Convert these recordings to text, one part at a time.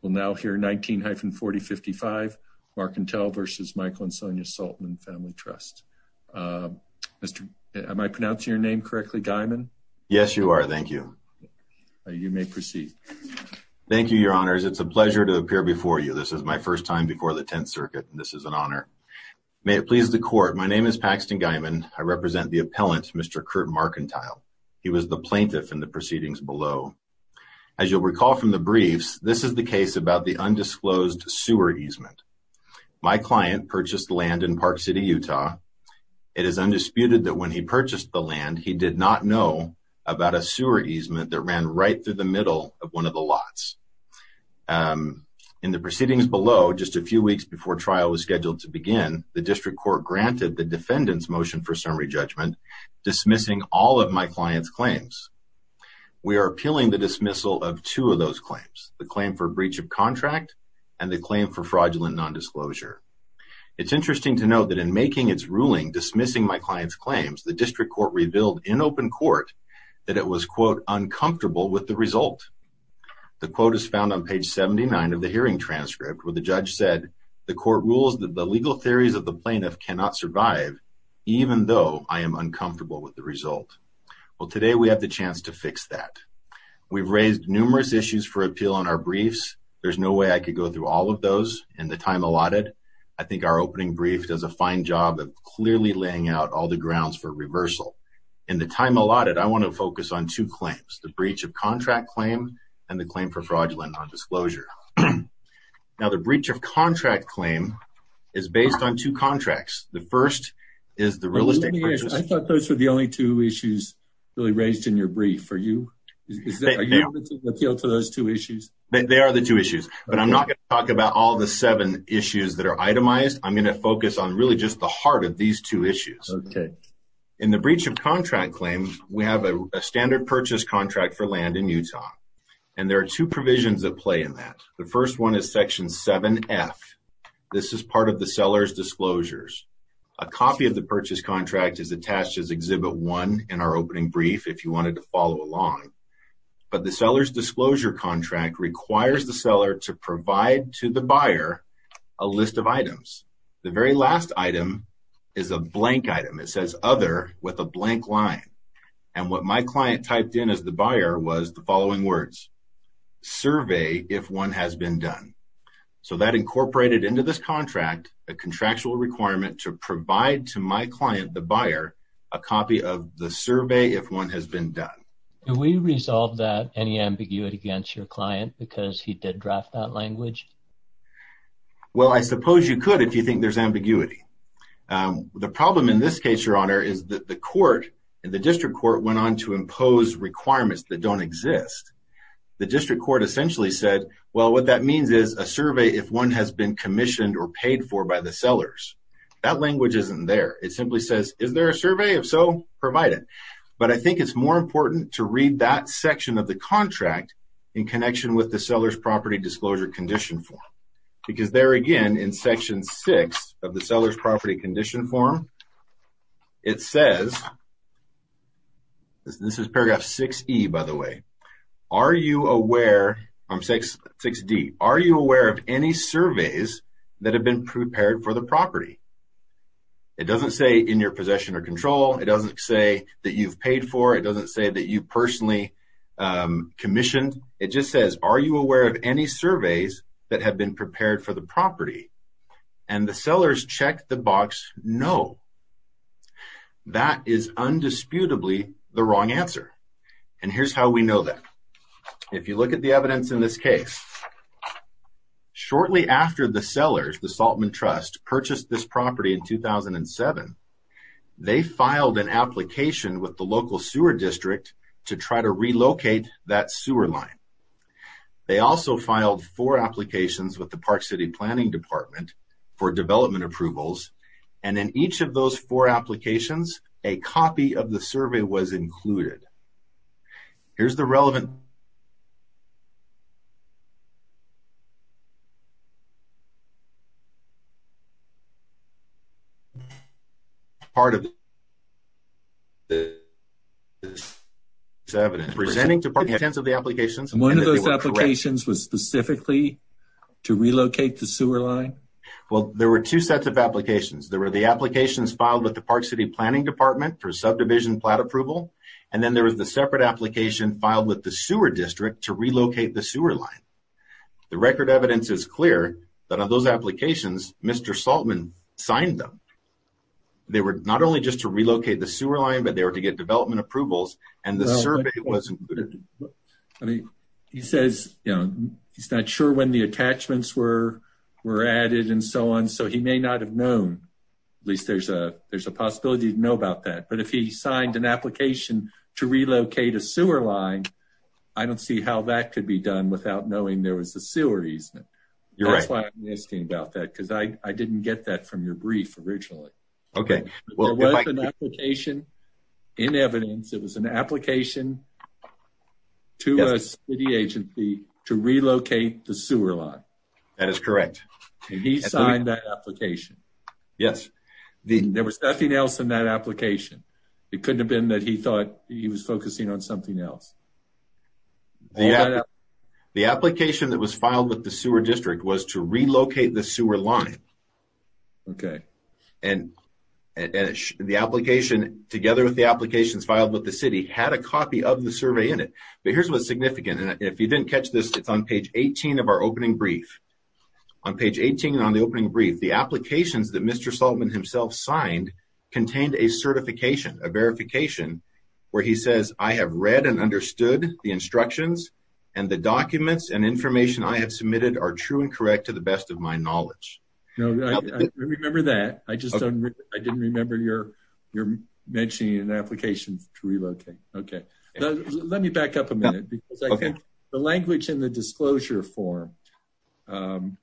We'll now hear 19-4055, Marcantel v. Michael & Sonja Saltman Family Trust. Uh, Mr., am I pronouncing your name correctly, Guymon? Yes, you are. Thank you. You may proceed. Thank you, your honors. It's a pleasure to appear before you. This is my first time before the 10th circuit, and this is an honor. May it please the court. My name is Paxton Guymon. I represent the appellant, Mr. Kurt Marcantel. He was the plaintiff in the proceedings below. As you'll recall from the briefs, this is the case about the undisclosed sewer easement. My client purchased land in Park City, Utah. It is undisputed that when he purchased the land, he did not know about a sewer easement that ran right through the middle of one of the lots. Um, in the proceedings below, just a few weeks before trial was scheduled to begin, the district court granted the defendant's motion for summary judgment, dismissing all of my client's claims. We are appealing the dismissal of two of those claims, the claim for breach of contract and the claim for fraudulent nondisclosure. It's interesting to note that in making its ruling, dismissing my client's claims, the district court revealed in open court that it was quote uncomfortable with the result. The quote is found on page 79 of the hearing transcript where the judge said, the court rules that the legal theories of the plaintiff cannot survive, even though I am uncomfortable with the result. Well, today we have the chance to fix that. We've raised numerous issues for appeal on our briefs. There's no way I could go through all of those in the time allotted. I think our opening brief does a fine job of clearly laying out all the grounds for reversal. In the time allotted, I want to focus on two claims, the breach of contract claim and the claim for fraudulent nondisclosure. Now the breach of contract claim is based on two contracts. The first is the realistic purchase. I thought those were the only two issues really raised in your brief. Are you able to appeal to those two issues? They are the two issues, but I'm not going to talk about all the seven issues that are itemized. I'm going to focus on really just the heart of these two issues. In the breach of contract claim, we have a standard purchase contract for land in Utah. And there are two provisions that play in that. The first one is section 7F. This is part of the seller's disclosures. A copy of the purchase contract is attached as exhibit one in our opening brief, if you wanted to follow along. But the seller's disclosure contract requires the seller to provide to the buyer a list of items. The very last item is a blank item. It says other with a blank line. And what my client typed in as the buyer was the following words, survey, if one has been done. So that incorporated into this contract, a contractual requirement to provide to my client, the buyer, a copy of the survey. If one has been done. Do we resolve that any ambiguity against your client because he did draft that language? Well, I suppose you could, if you think there's ambiguity. Um, the problem in this case, your honor, is that the court and the district court went on to impose requirements that don't exist. The district court essentially said, well, what that means is a survey. If one has been commissioned or paid for by the sellers. That language isn't there. It simply says, is there a survey of so provided, but I think it's more important to read that section of the contract in connection with the seller's property disclosure condition form, because there again, in section six of the seller's property condition form, it says, this is paragraph six E by the way. Are you aware I'm six, six D are you aware of any surveys that have prepared for the property? It doesn't say in your possession or control. It doesn't say that you've paid for it. Doesn't say that you personally. Um, commissioned. It just says, are you aware of any surveys that have been prepared for the property and the sellers check the box? No, that is undisputably the wrong answer. And here's how we know that if you look at the evidence in this case, shortly after the sellers, the Saltman trust purchased this property in 2007, they filed an application with the local sewer district to try to relocate that sewer line. They also filed four applications with the park city planning department for development approvals. And then each of those four applications, a copy of the survey was included. Here's the relevant. Part of the evidence presenting to part of the applications. And one of those applications was specifically to relocate the sewer line. Well, there were two sets of applications. There were the applications filed with the park city planning department for subdivision plat approval. And then there was the separate application filed with the sewer district to relocate the sewer line. The record evidence is clear that on those applications, Mr. Saltman signed them. They were not only just to relocate the sewer line, but they were to get development approvals and the survey was included. I mean, he says, you know, he's not sure when the attachments were, were added and so on. So he may not have known at least there's a, there's a possibility to know about that. But if he signed an application to relocate a sewer line, I don't see how that could be done without knowing there was a sewer easement. That's why I'm asking about that. Cause I, I didn't get that from your brief originally. Okay. Well, there was an application in evidence. It was an application to a city agency to relocate the sewer line. That is correct. And he signed that application. Yes. The, there was nothing else in that application. It couldn't have been that he thought he was focusing on something else. The application that was filed with the sewer district was to relocate the sewer line. Okay. And the application together with the applications filed with the city had a copy of the survey in it, but here's what's significant. And if you didn't catch this, it's on page 18 of our opening brief on page 18. And on the opening brief, the applications that Mr. Saltman himself signed contained a certification, a verification where he says, I have read and understood the instructions and the documents and information I have submitted are true and correct to the best of my knowledge. No, I remember that. I just don't, I didn't remember your, your mentioning an application to relocate. Okay. Let me back up a minute because I think the language in the disclosure form, um,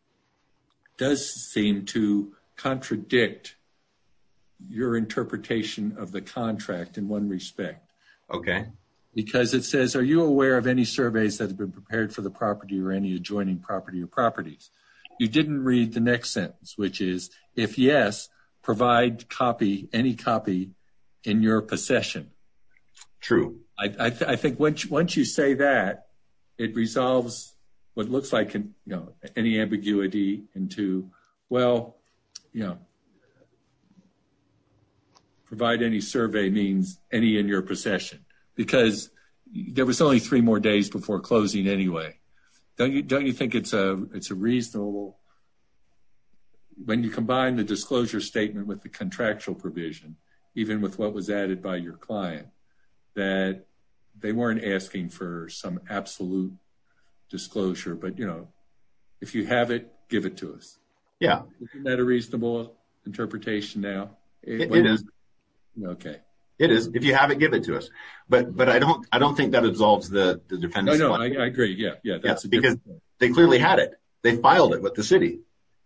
does seem to contradict your interpretation of the contract in one respect. Okay. Because it says, are you aware of any surveys that have been prepared for the property or any adjoining property or properties you didn't read the next sentence, which is if yes, provide copy, any copy in your possession. True. I think once, once you say that it resolves what looks like, you know, any ambiguity into, well, you know, provide any survey means any in your session, because there was only three more days before closing. Anyway, don't you, don't you think it's a, it's a reasonable when you combine the disclosure statement with the contractual provision, even with what was added by your client, that they weren't asking for some absolute disclosure, but you know, if you have it, give it to us. Yeah. Isn't that a reasonable interpretation now? Okay. It is. If you have it, give it to us. But, but I don't, I don't think that absolves the defendant. I know. I agree. Yeah. Yeah. That's because they clearly had it. They filed it with the city.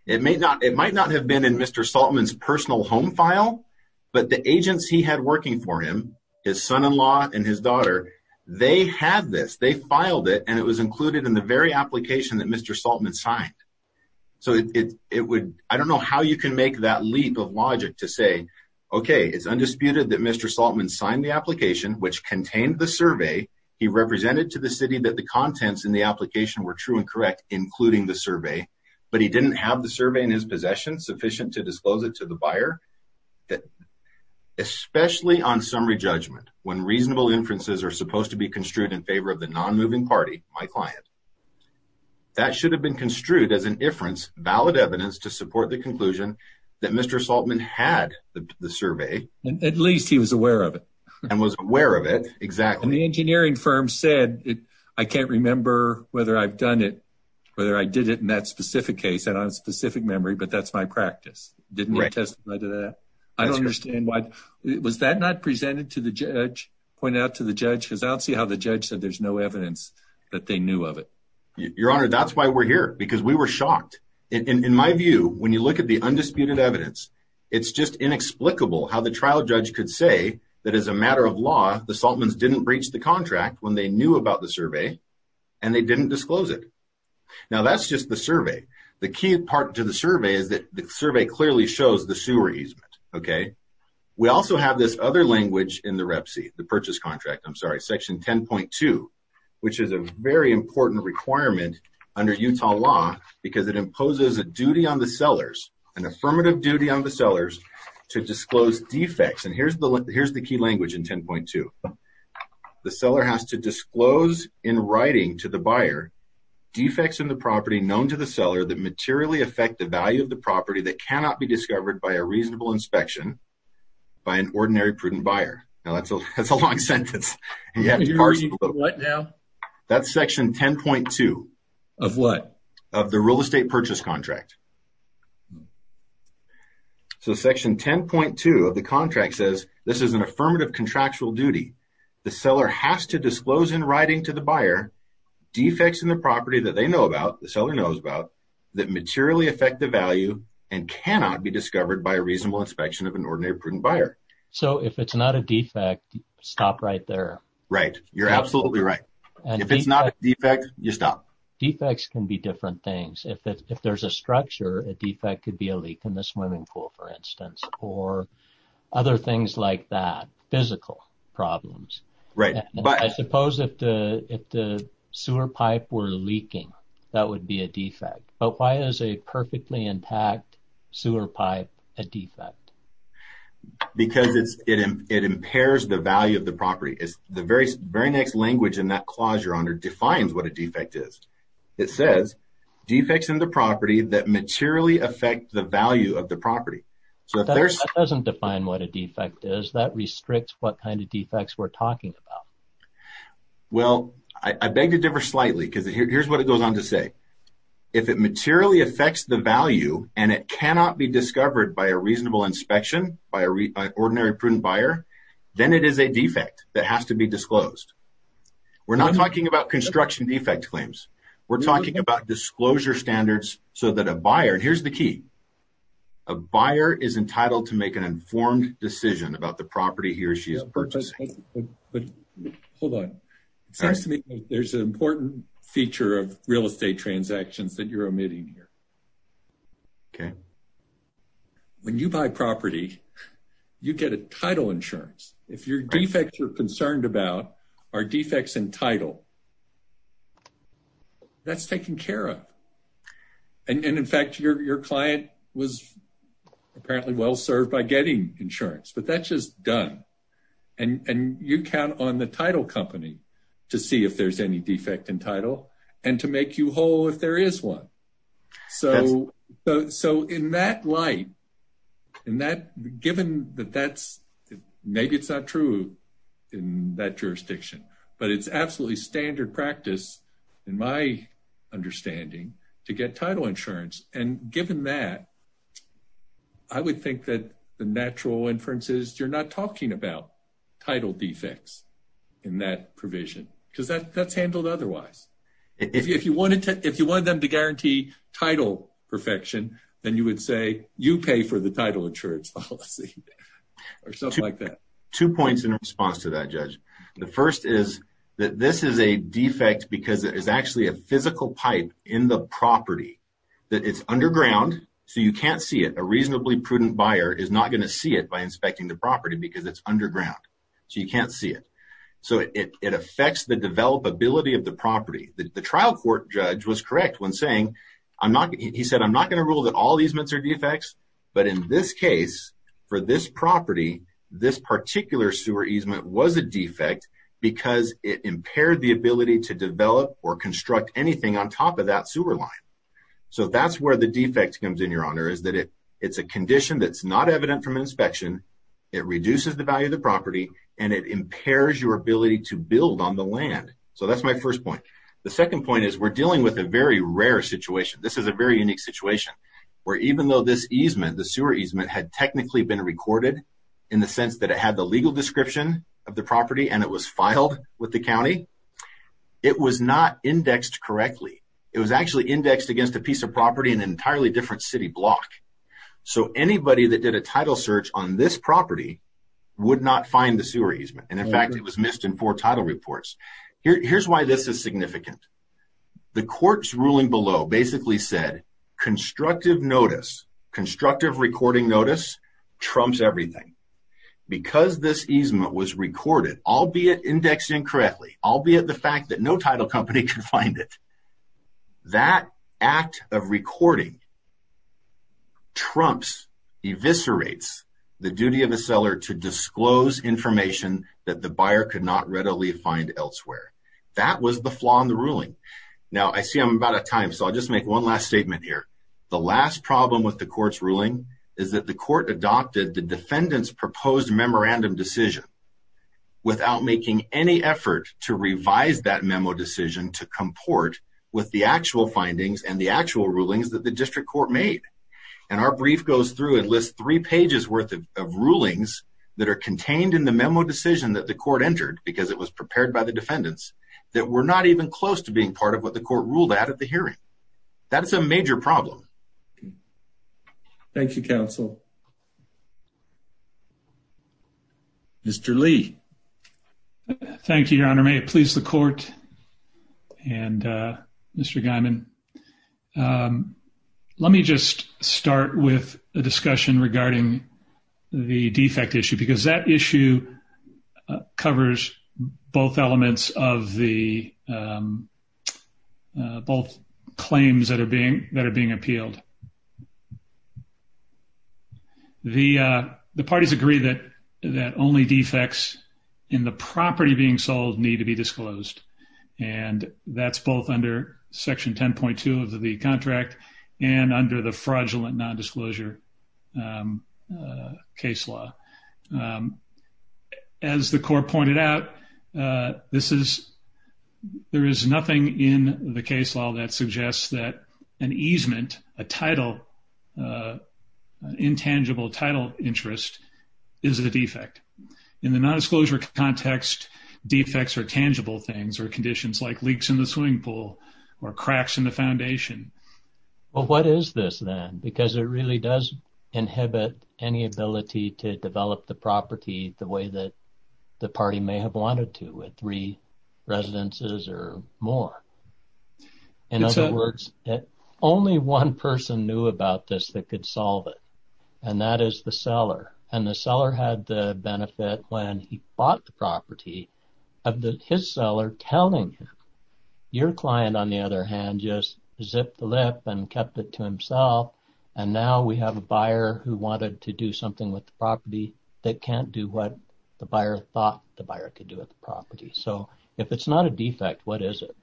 It may not, it might not have been in Mr. Saltman's personal home file, but the agents he had working for him, his son in law and his daughter, they had this, they filed it and it was included in the very application that Mr. Saltman signed. So it, it, it would, I don't know how you can make that leap of logic to say, okay, it's undisputed that Mr. Saltman signed the application, which contained the survey. He represented to the city that the contents in the application were true and correct, including the survey, but he didn't have the survey in his possession sufficient to disclose it to the buyer that especially on summary judgment, when reasonable inferences are supposed to be construed in favor of the non-moving party, my client. That should have been construed as an inference valid evidence to support the conclusion that Mr. Saltman had the survey. And at least he was aware of it and was aware of it. Exactly. And the engineering firm said, I can't remember whether I've done it, whether I did it in that specific case and on a specific memory, but that's my practice. Didn't get testified to that. I don't understand why it was that not presented to the judge, pointed out to the judge because I don't see how the judge said there's no evidence that they knew of it. Your honor. That's why we're here because we were shocked. And in my view, when you look at the undisputed evidence, it's just inexplicable how the trial judge could say that as a matter of law, the Saltman's didn't breach the contract when they knew about the survey and they didn't disclose it. Now that's just the survey. The key part to the survey is that the survey clearly shows the sewer easement. Okay. We also have this other language in the Rep C the purchase contract, I'm sorry, section 10.2, which is a very important requirement under Utah law because it poses a duty on the sellers, an affirmative duty on the sellers to disclose defects. And here's the, here's the key language in 10.2, the seller has to disclose in writing to the buyer defects in the property known to the seller that materially affect the value of the property that cannot be discovered by a reasonable inspection by an ordinary prudent buyer. Now that's a, that's a long sentence. And yeah, that's section 10.2 of what? Of the real estate purchase contract. So section 10.2 of the contract says this is an affirmative contractual duty. The seller has to disclose in writing to the buyer defects in the property that they know about the seller knows about that materially affect the value and cannot be discovered by a reasonable inspection of an ordinary prudent buyer. So if it's not a defect, stop right there. Right. You're absolutely right. If it's not a defect, you stop. Defects can be different things. If there's a structure, a defect could be a leak in the swimming pool, for instance, or other things like that. Physical problems. Right. But I suppose if the, if the sewer pipe were leaking, that would be a defect. But why is a perfectly intact sewer pipe a defect? Because it's, it impairs the value of the property. It's the very, very next language in that clause, your honor, defines what a defect is. It says defects in the property that materially affect the value of the property. So if there's, That doesn't define what a defect is, that restricts what kind of defects we're talking about. Well, I beg to differ slightly because here's what it goes on to say. If it materially affects the value and it cannot be discovered by a reasonable inspection by an ordinary prudent buyer, then it is a defect that has to be disclosed. We're not talking about construction defect claims. We're talking about disclosure standards so that a buyer, and here's the key. A buyer is entitled to make an informed decision about the property he or she is purchasing. Hold on. It seems to me there's an important feature of real estate transactions that you're omitting here. Okay. When you buy property, you get a title insurance. If your defects you're concerned about are defects in title, that's taken care of. And in fact, your client was apparently well served by getting insurance, but that's just done. And you count on the title company to see if there's any defect in title and to make you whole if there is one. So in that light, given that that's, maybe it's not true in that jurisdiction, but it's absolutely standard practice in my understanding to get title insurance. And given that, I would think that the natural inference is you're not talking about title defects in that provision because that's handled otherwise. If you wanted them to guarantee title perfection, then you would say you pay for the title insurance policy or stuff like that. Two points in response to that, Judge. The first is that this is a defect because it is actually a physical pipe in the property that it's underground, so you can't see it. A reasonably prudent buyer is not going to see it by inspecting the property because it's underground, so you can't see it. So it affects the developability of the property. The trial court judge was correct when saying, he said, I'm not going to rule that all easements are defects, but in this case, for this property, this particular sewer easement was a defect because it impaired the ability to develop or construct anything on top of that sewer line. So that's where the defect comes in, Your Honor, is that it's a condition that's not evident from inspection, it reduces the value of the property, and it impairs your ability to build on the land. So that's my first point. The second point is we're dealing with a very rare situation. This is a very unique situation where even though this easement, the sewer easement, had technically been recorded in the sense that it had the legal description of the property and it was filed with the county, it was not indexed correctly. It was actually indexed against a piece of property in an entirely different city block. So anybody that did a title search on this property would not find the sewer easement, and in fact, it was missed in four title reports. Here's why this is significant. The court's ruling below basically said constructive notice, constructive recording notice, trumps everything. Because this easement was recorded, albeit indexed incorrectly, albeit the fact that no title company could find it, that act of recording trumps, eviscerates the duty of a seller to disclose information that the buyer could not readily find elsewhere. That was the flaw in the ruling. Now I see I'm about out of time, so I'll just make one last statement here. The last problem with the court's ruling is that the court adopted the defendant's proposed memorandum decision without making any effort to revise that memo decision to comport with the actual findings and the actual rulings that the district court made. And our brief goes through and lists three pages worth of rulings that are contained in the memo decision that the court entered, because it was prepared by the defendants, that were not even close to being part of what the court ruled at at the hearing. That is a major problem. Thank you, counsel. Mr. Lee. Thank you, Your Honor. May it please the court and Mr. I'll just start with a discussion regarding the defect issue, because that issue covers both elements of the, both claims that are being, that are being appealed. The, the parties agree that, that only defects in the property being sold need to be disclosed, and that's both under section 10.2 of the contract and under the fraudulent nondisclosure case law. As the court pointed out, this is, there is nothing in the case law that suggests that an easement, a title, intangible title interest is a defect. In the nondisclosure context, defects are tangible things or conditions like leaks in the swimming pool or cracks in the foundation. Well, what is this then? Because it really does inhibit any ability to develop the property the way that the party may have wanted to at three residences or more. In other words, only one person knew about this that could solve it. And that is the seller. And the seller had the benefit when he bought the property of the, his seller telling him. Your client, on the other hand, just zipped the lip and kept it to himself. And now we have a buyer who wanted to do something with the property that can't do what the buyer thought the buyer could do with the property. So if it's not a defect, what is it?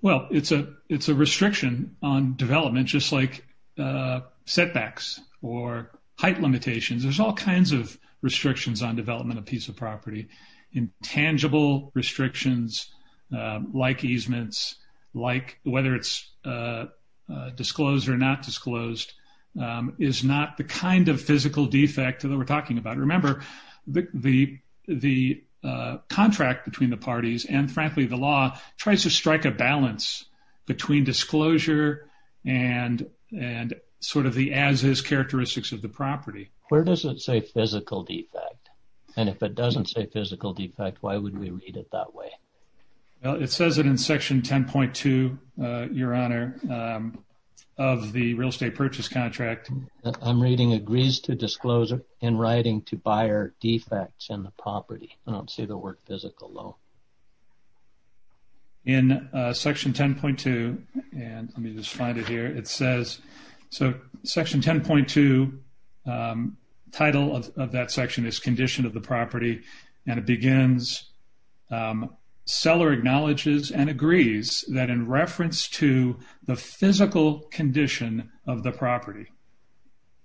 Well, it's a, it's a restriction on development, just like setbacks or height limitations. There's all kinds of restrictions on development of a piece of property. Intangible restrictions like easements, like whether it's disclosed or not disclosed, is not the kind of physical defect that we're talking about. Remember, the contract between the parties and frankly, the law tries to strike a balance between disclosure and sort of the as-is characteristics of the property. Where does it say physical defect? And if it doesn't say physical defect, why would we read it that way? Well, it says it in section 10.2, your honor, of the real estate purchase contract. I'm reading agrees to disclose in writing to buyer defects in the property. I don't see the word physical though. In section 10.2, and let me just find it here. It says, so section 10.2 title of that section is condition of the property. And it begins, seller acknowledges and agrees that in reference to the physical condition of the property,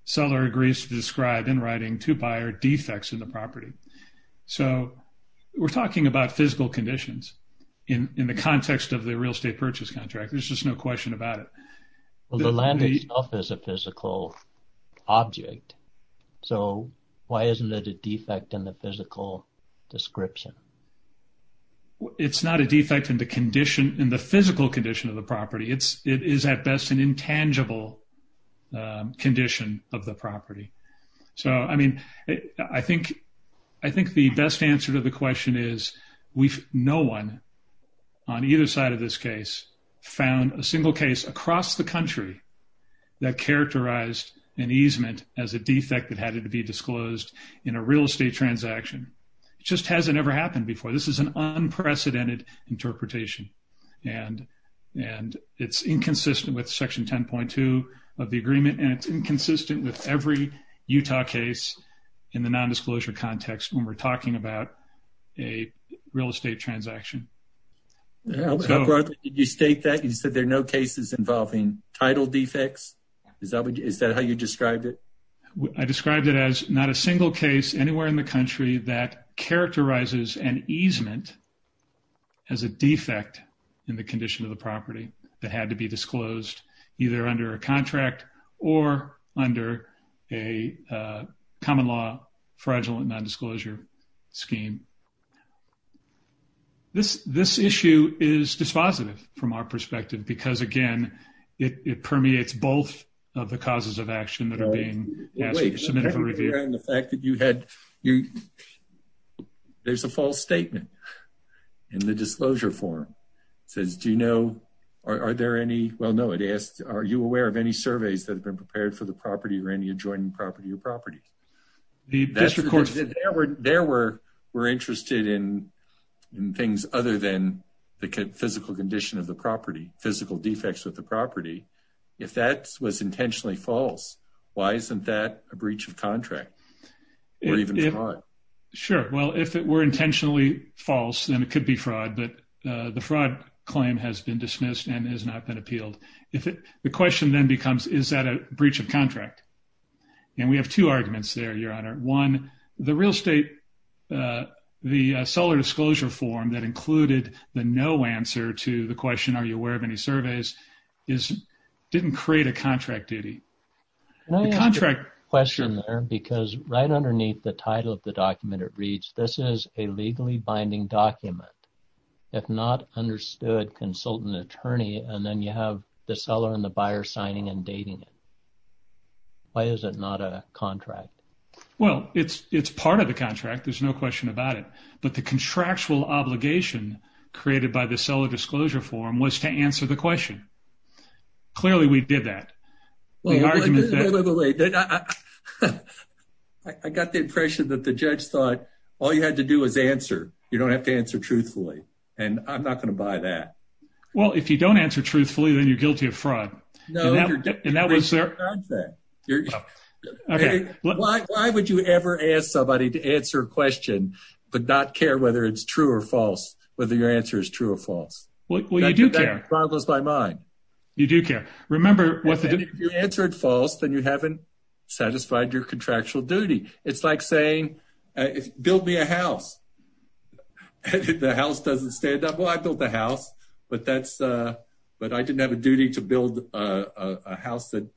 seller agrees to describe in writing to buyer defects in the property. So we're talking about physical conditions in the context of the real estate purchase contract. There's just no question about it. Well, the land itself is a physical object. So why isn't it a defect in the physical description? It's not a defect in the condition, in the physical condition of the property. It is at best an intangible condition of the property. So, I mean, I think the best answer to the question is no one on either side of this case found a single case across the country that characterized an easement as a defect that had to be disclosed in a real estate transaction. It just hasn't ever happened before. This is an unprecedented interpretation and it's inconsistent with section 10.2 of the agreement and it's inconsistent with every Utah case in the nondisclosure context when we're talking about a real estate transaction. How broadly did you state that? You said there are no cases involving title defects. Is that how you described it? I described it as not a single case anywhere in the country that characterizes an easement as a defect in the condition of the property that had to be disclosed either under a contract or under a common law, fraudulent nondisclosure scheme. This issue is dispositive from our perspective because, again, it permeates both of the causes of action that are being submitted for review. Wait, I'm not quite clear on the fact that you had, there's a false statement in the disclosure form, it says, do you know, are there any, well, no, it asks, are you aware of any surveys that have been prepared for the property or any adjoining property or property? The district court said there were interested in things other than the physical condition of the property, physical defects with the property. If that was intentionally false, why isn't that a breach of contract or even fraud? Sure. Well, if it were intentionally false, then it could be fraud. But the fraud claim has been dismissed and has not been appealed. If the question then becomes, is that a breach of contract? And we have two arguments there, Your Honor. One, the real estate, the seller disclosure form that included the no answer to the question, are you aware of any surveys, is, didn't create a contract duty. The contract. Question there, because right underneath the title of the document, it reads, this is a legally binding document, if not understood, consultant attorney, and then you have the seller and the buyer signing and dating it. Why is it not a contract? Well, it's part of the contract. There's no question about it. But the contractual obligation created by the seller disclosure form was to answer the question. Clearly, we did that. Well, I got the impression that the judge thought all you had to do was answer. You don't have to answer truthfully. And I'm not going to buy that. Well, if you don't answer truthfully, then you're guilty of fraud. No, you're not. Why would you ever ask somebody to answer a question, but not care whether it's true or false, whether your answer is true or false? Well, you do care. That goes by mine. You do care. Remember, if you answered false, then you haven't satisfied your contractual duty. It's like saying, build me a house. The house doesn't stand up. Well, I built the house, but I didn't have a duty to build a house that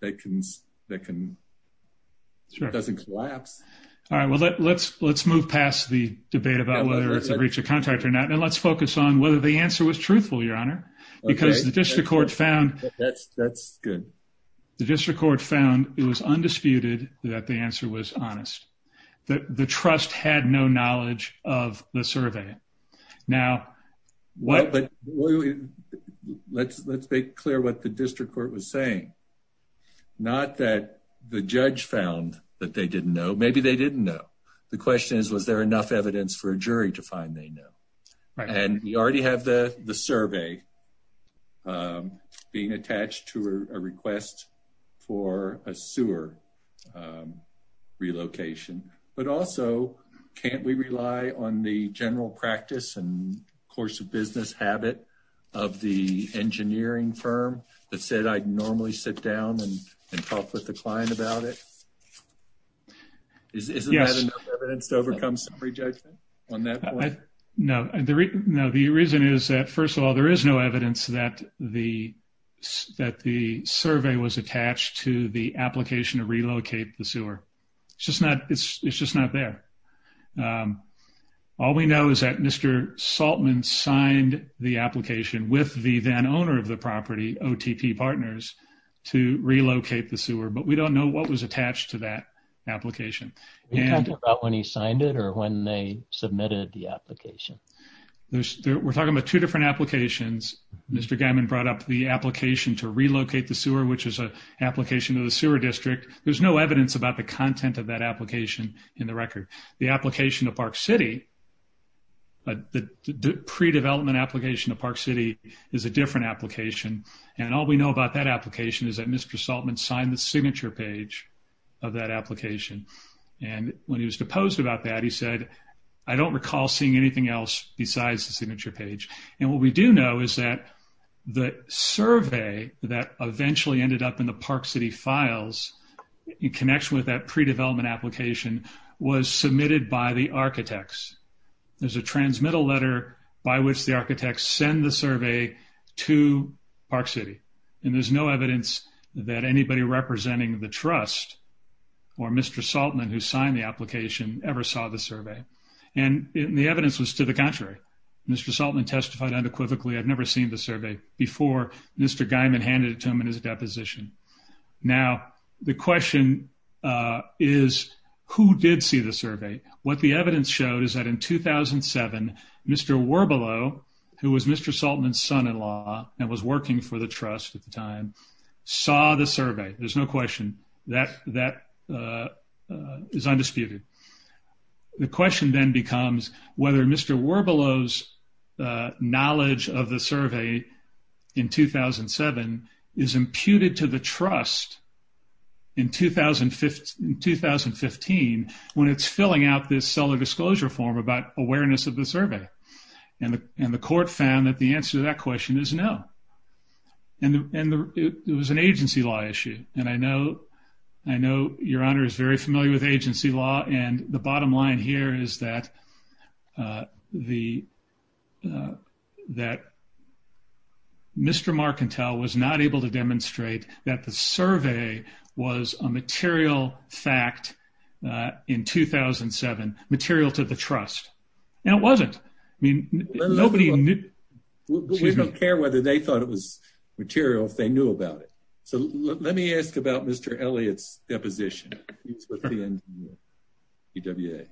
doesn't collapse. All right. Well, let's move past the debate about whether it's a breach of contract or not. And let's focus on whether the answer was truthful, Your Honor, because the district court found. That's good. The district court found it was undisputed that the answer was honest, that the trust had no knowledge of the survey. Now, let's make clear what the district court was saying, not that the judge found that they didn't know. Maybe they didn't know. The question is, was there enough evidence for a jury to find they know? And we already have the survey being attached to a request for a sewer relocation. But also, can't we rely on the general practice and course of business habit of the engineering firm that said I'd normally sit down and talk with the client about it? Isn't that enough evidence to overcome summary judgment on that point? No. No, the reason is that, first of all, there is no evidence that the survey was correct. It's just not there. All we know is that Mr. Saltman signed the application with the then owner of the property, OTP Partners, to relocate the sewer. But we don't know what was attached to that application. Did he talk about when he signed it or when they submitted the application? We're talking about two different applications. Mr. Gaiman brought up the application to relocate the sewer, which is an application of the sewer district. There's no evidence about the content of that application in the record. The application to Park City, the pre-development application to Park City, is a different application. And all we know about that application is that Mr. Saltman signed the signature page of that application. And when he was deposed about that, he said, I don't recall seeing anything else besides the signature page. And what we do know is that the survey that eventually ended up in the Park City files in connection with that pre-development application was submitted by the architects. There's a transmittal letter by which the architects send the survey to Park City. And there's no evidence that anybody representing the trust or Mr. Saltman, who signed the application, ever saw the survey. And the evidence was to the contrary. Mr. Saltman testified unequivocally, I've never seen the survey before. Mr. Gaiman handed it to him in his deposition. Now, the question is, who did see the survey? What the evidence showed is that in 2007, Mr. Werbelow, who was Mr. Saltman's son-in-law and was working for the trust at the time, saw the survey. There's no question that that is undisputed. The question then becomes whether Mr. Werbelow's knowledge of the survey in 2007 is imputed to the trust in 2015 when it's filling out this seller disclosure form about awareness of the survey. And the court found that the answer to that question is no. And it was an agency law issue. And I know, I know Your Honor is very familiar with agency law. And the bottom line here is that the, that Mr. Marcantel was not able to demonstrate that the survey was a material fact in 2007, material to the trust, and it wasn't. I mean, nobody knew. We don't care whether they thought it was material if they knew about it. So let me ask about Mr. Elliott's deposition with the EWA.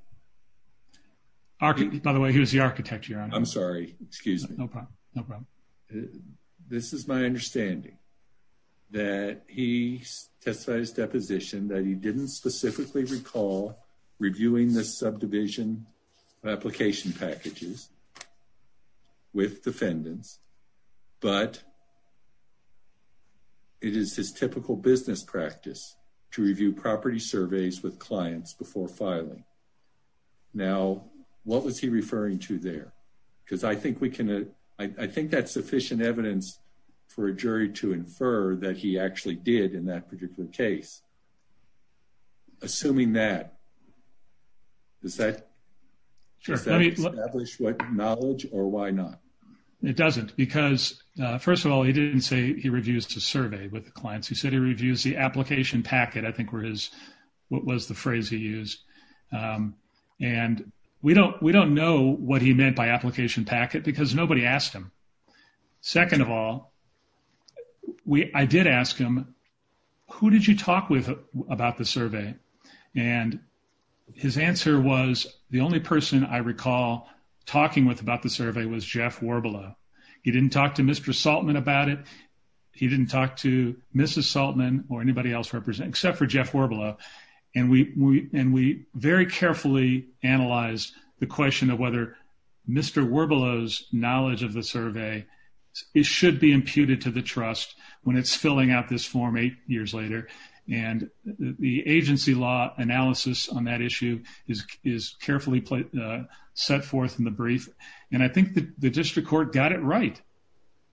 By the way, he was the architect, Your Honor. I'm sorry. Excuse me. No problem. No problem. This is my understanding that he testified his deposition that he didn't specifically recall reviewing the subdivision application packages with clients. It is his typical business practice to review property surveys with clients before filing. Now, what was he referring to there? Because I think we can, I think that's sufficient evidence for a jury to infer that he actually did in that particular case. Assuming that, does that establish what knowledge or why not? It doesn't. Because first of all, he didn't say he reviews to survey with the clients. He said he reviews the application packet. I think where his, what was the phrase he used? And we don't, we don't know what he meant by application packet because nobody asked him. Second of all, we, I did ask him, who did you talk with about the survey? And his answer was the only person I recall talking with about the survey was Jeff Warbler. He didn't talk to Mr. Saltman about it. He didn't talk to Mrs. Saltman or anybody else represent except for Jeff Warbler. And we, we, and we very carefully analyze the question of whether Mr. Warbler's knowledge of the survey, it should be imputed to the trust when it's filling out this form eight years later and the agency law analysis on that issue is, is carefully set forth in the brief. And I think that the district court got it right,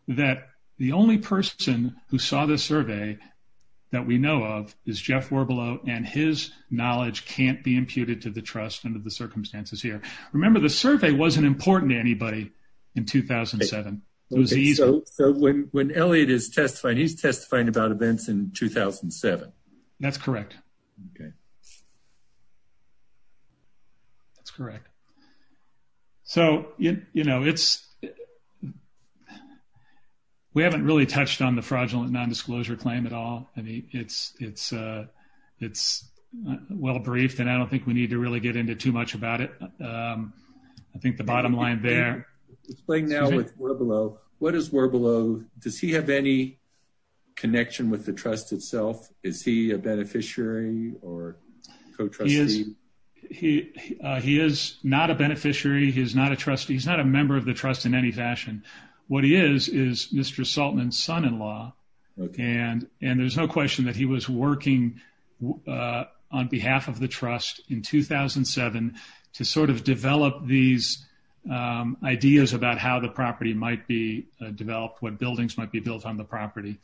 that the only person who saw this survey that we know of is Jeff Warbler and his knowledge can't be imputed to the trust under the circumstances here, remember the survey wasn't important to anybody in 2007. It was easy. So when, when Elliot is testifying, he's testifying about events in 2007. That's correct. Okay. That's correct. So, you know, it's, we haven't really touched on the fraudulent nondisclosure claim at all. I mean, it's, it's, it's well briefed and I don't think we need to really get into too much about it. I think the bottom line there. Explain now with Warbler, what is Warbler, does he have any connection Is he a beneficiary or co-trustee? He, he is not a beneficiary. He is not a trustee. He's not a member of the trust in any fashion. What he is, is Mr. Saltman's son-in-law. And, and there's no question that he was working on behalf of the trust in 2007 to sort of develop these ideas about how the property might be developed, what buildings might be built on the property.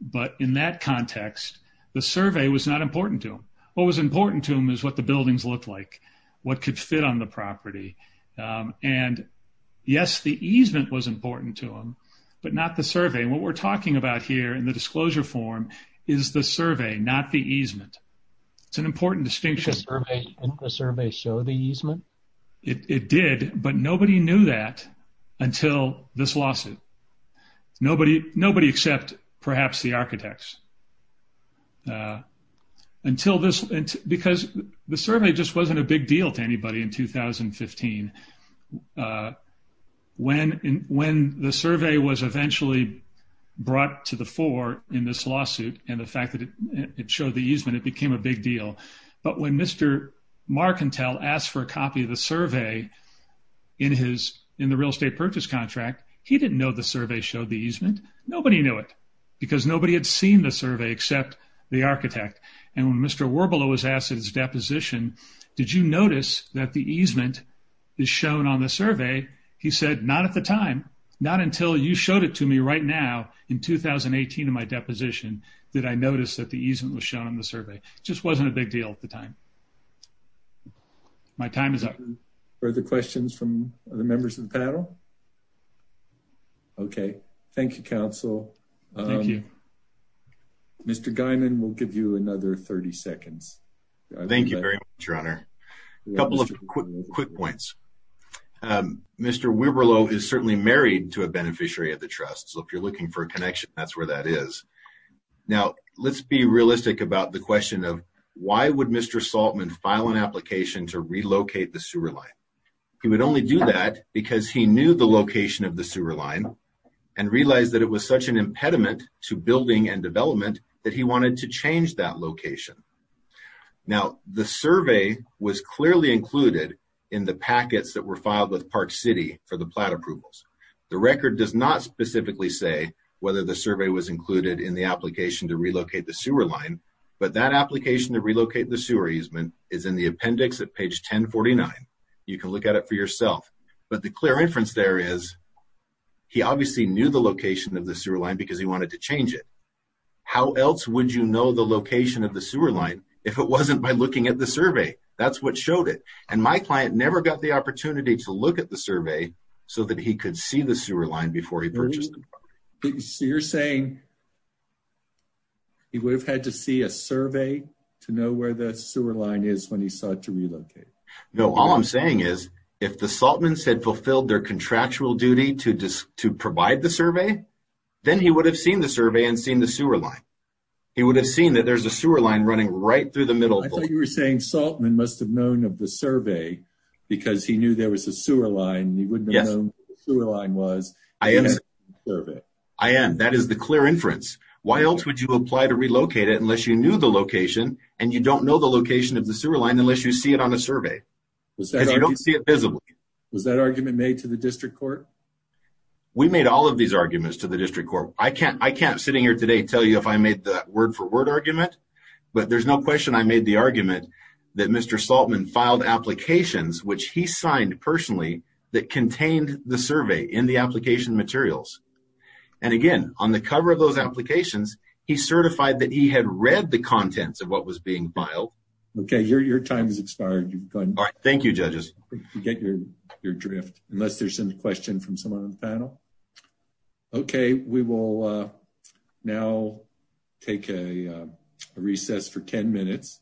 But in that context, the survey was not important to him. What was important to him is what the buildings looked like, what could fit on the property. And yes, the easement was important to him, but not the survey. And what we're talking about here in the disclosure form is the survey, not the easement. It's an important distinction. Didn't the survey show the easement? It did, but nobody knew that until this lawsuit. Nobody, nobody except perhaps the architects. Until this, because the survey just wasn't a big deal to anybody in 2015. When, when the survey was eventually brought to the fore in this lawsuit and the fact that it showed the easement, it became a big deal. But when Mr. Marcantel asked for a copy of the survey in his, in the real estate purchase contract, he didn't know the survey showed the easement. Nobody knew it because nobody had seen the survey. Except the architect. And when Mr. Werbela was asked at his deposition, did you notice that the easement is shown on the survey? He said, not at the time, not until you showed it to me right now in 2018, in my deposition, did I notice that the easement was shown on the survey. It just wasn't a big deal at the time. My time is up. Further questions from the members of the panel? Okay. Thank you, counsel. Thank you. Mr. Guyman, we'll give you another 30 seconds. Thank you very much, your honor. A couple of quick, quick points. Um, Mr. Werberlo is certainly married to a beneficiary of the trust. So if you're looking for a connection, that's where that is. Now let's be realistic about the question of why would Mr. Saltman file an application to relocate the sewer line? He would only do that because he knew the location of the sewer line and realized that it was such an impediment to building and development that he wanted to change that location. Now the survey was clearly included in the packets that were filed with Park City for the plat approvals. The record does not specifically say whether the survey was included in the application to relocate the sewer line, but that application to relocate the sewer easement is in the appendix at page 1049. You can look at it for yourself, but the clear inference there is he obviously knew the location of the sewer line because he wanted to change it. How else would you know the location of the sewer line if it wasn't by looking at the survey? That's what showed it. And my client never got the opportunity to look at the survey so that he could see the sewer line before he purchased it. So you're saying he would have had to see a survey to know where the sewer line is when he sought to relocate. No, all I'm saying is if the Saltman's had fulfilled their contractual duty to provide the survey, then he would have seen the survey and seen the sewer line. He would have seen that there's a sewer line running right through the middle. I thought you were saying Saltman must have known of the survey because he knew there was a sewer line and he wouldn't have known where the sewer line was. I am. I am. That is the clear inference. Why else would you apply to relocate it unless you knew the location and you don't know the location of the sewer line unless you see it on a survey? Because you don't see it visibly. Was that argument made to the district court? We made all of these arguments to the district court. I can't, I can't sitting here today. Tell you if I made the word for word argument, but there's no question. I made the argument that Mr. Saltman filed applications, which he signed personally that contained the survey in the application materials. And again, on the cover of those applications, he certified that he had read the contents of what was being filed. Okay. Your, your time has expired. You've gone by. Thank you. Judges get your, your drift. Unless there's a question from someone on the panel. Okay. We will now take a recess for 10 minutes.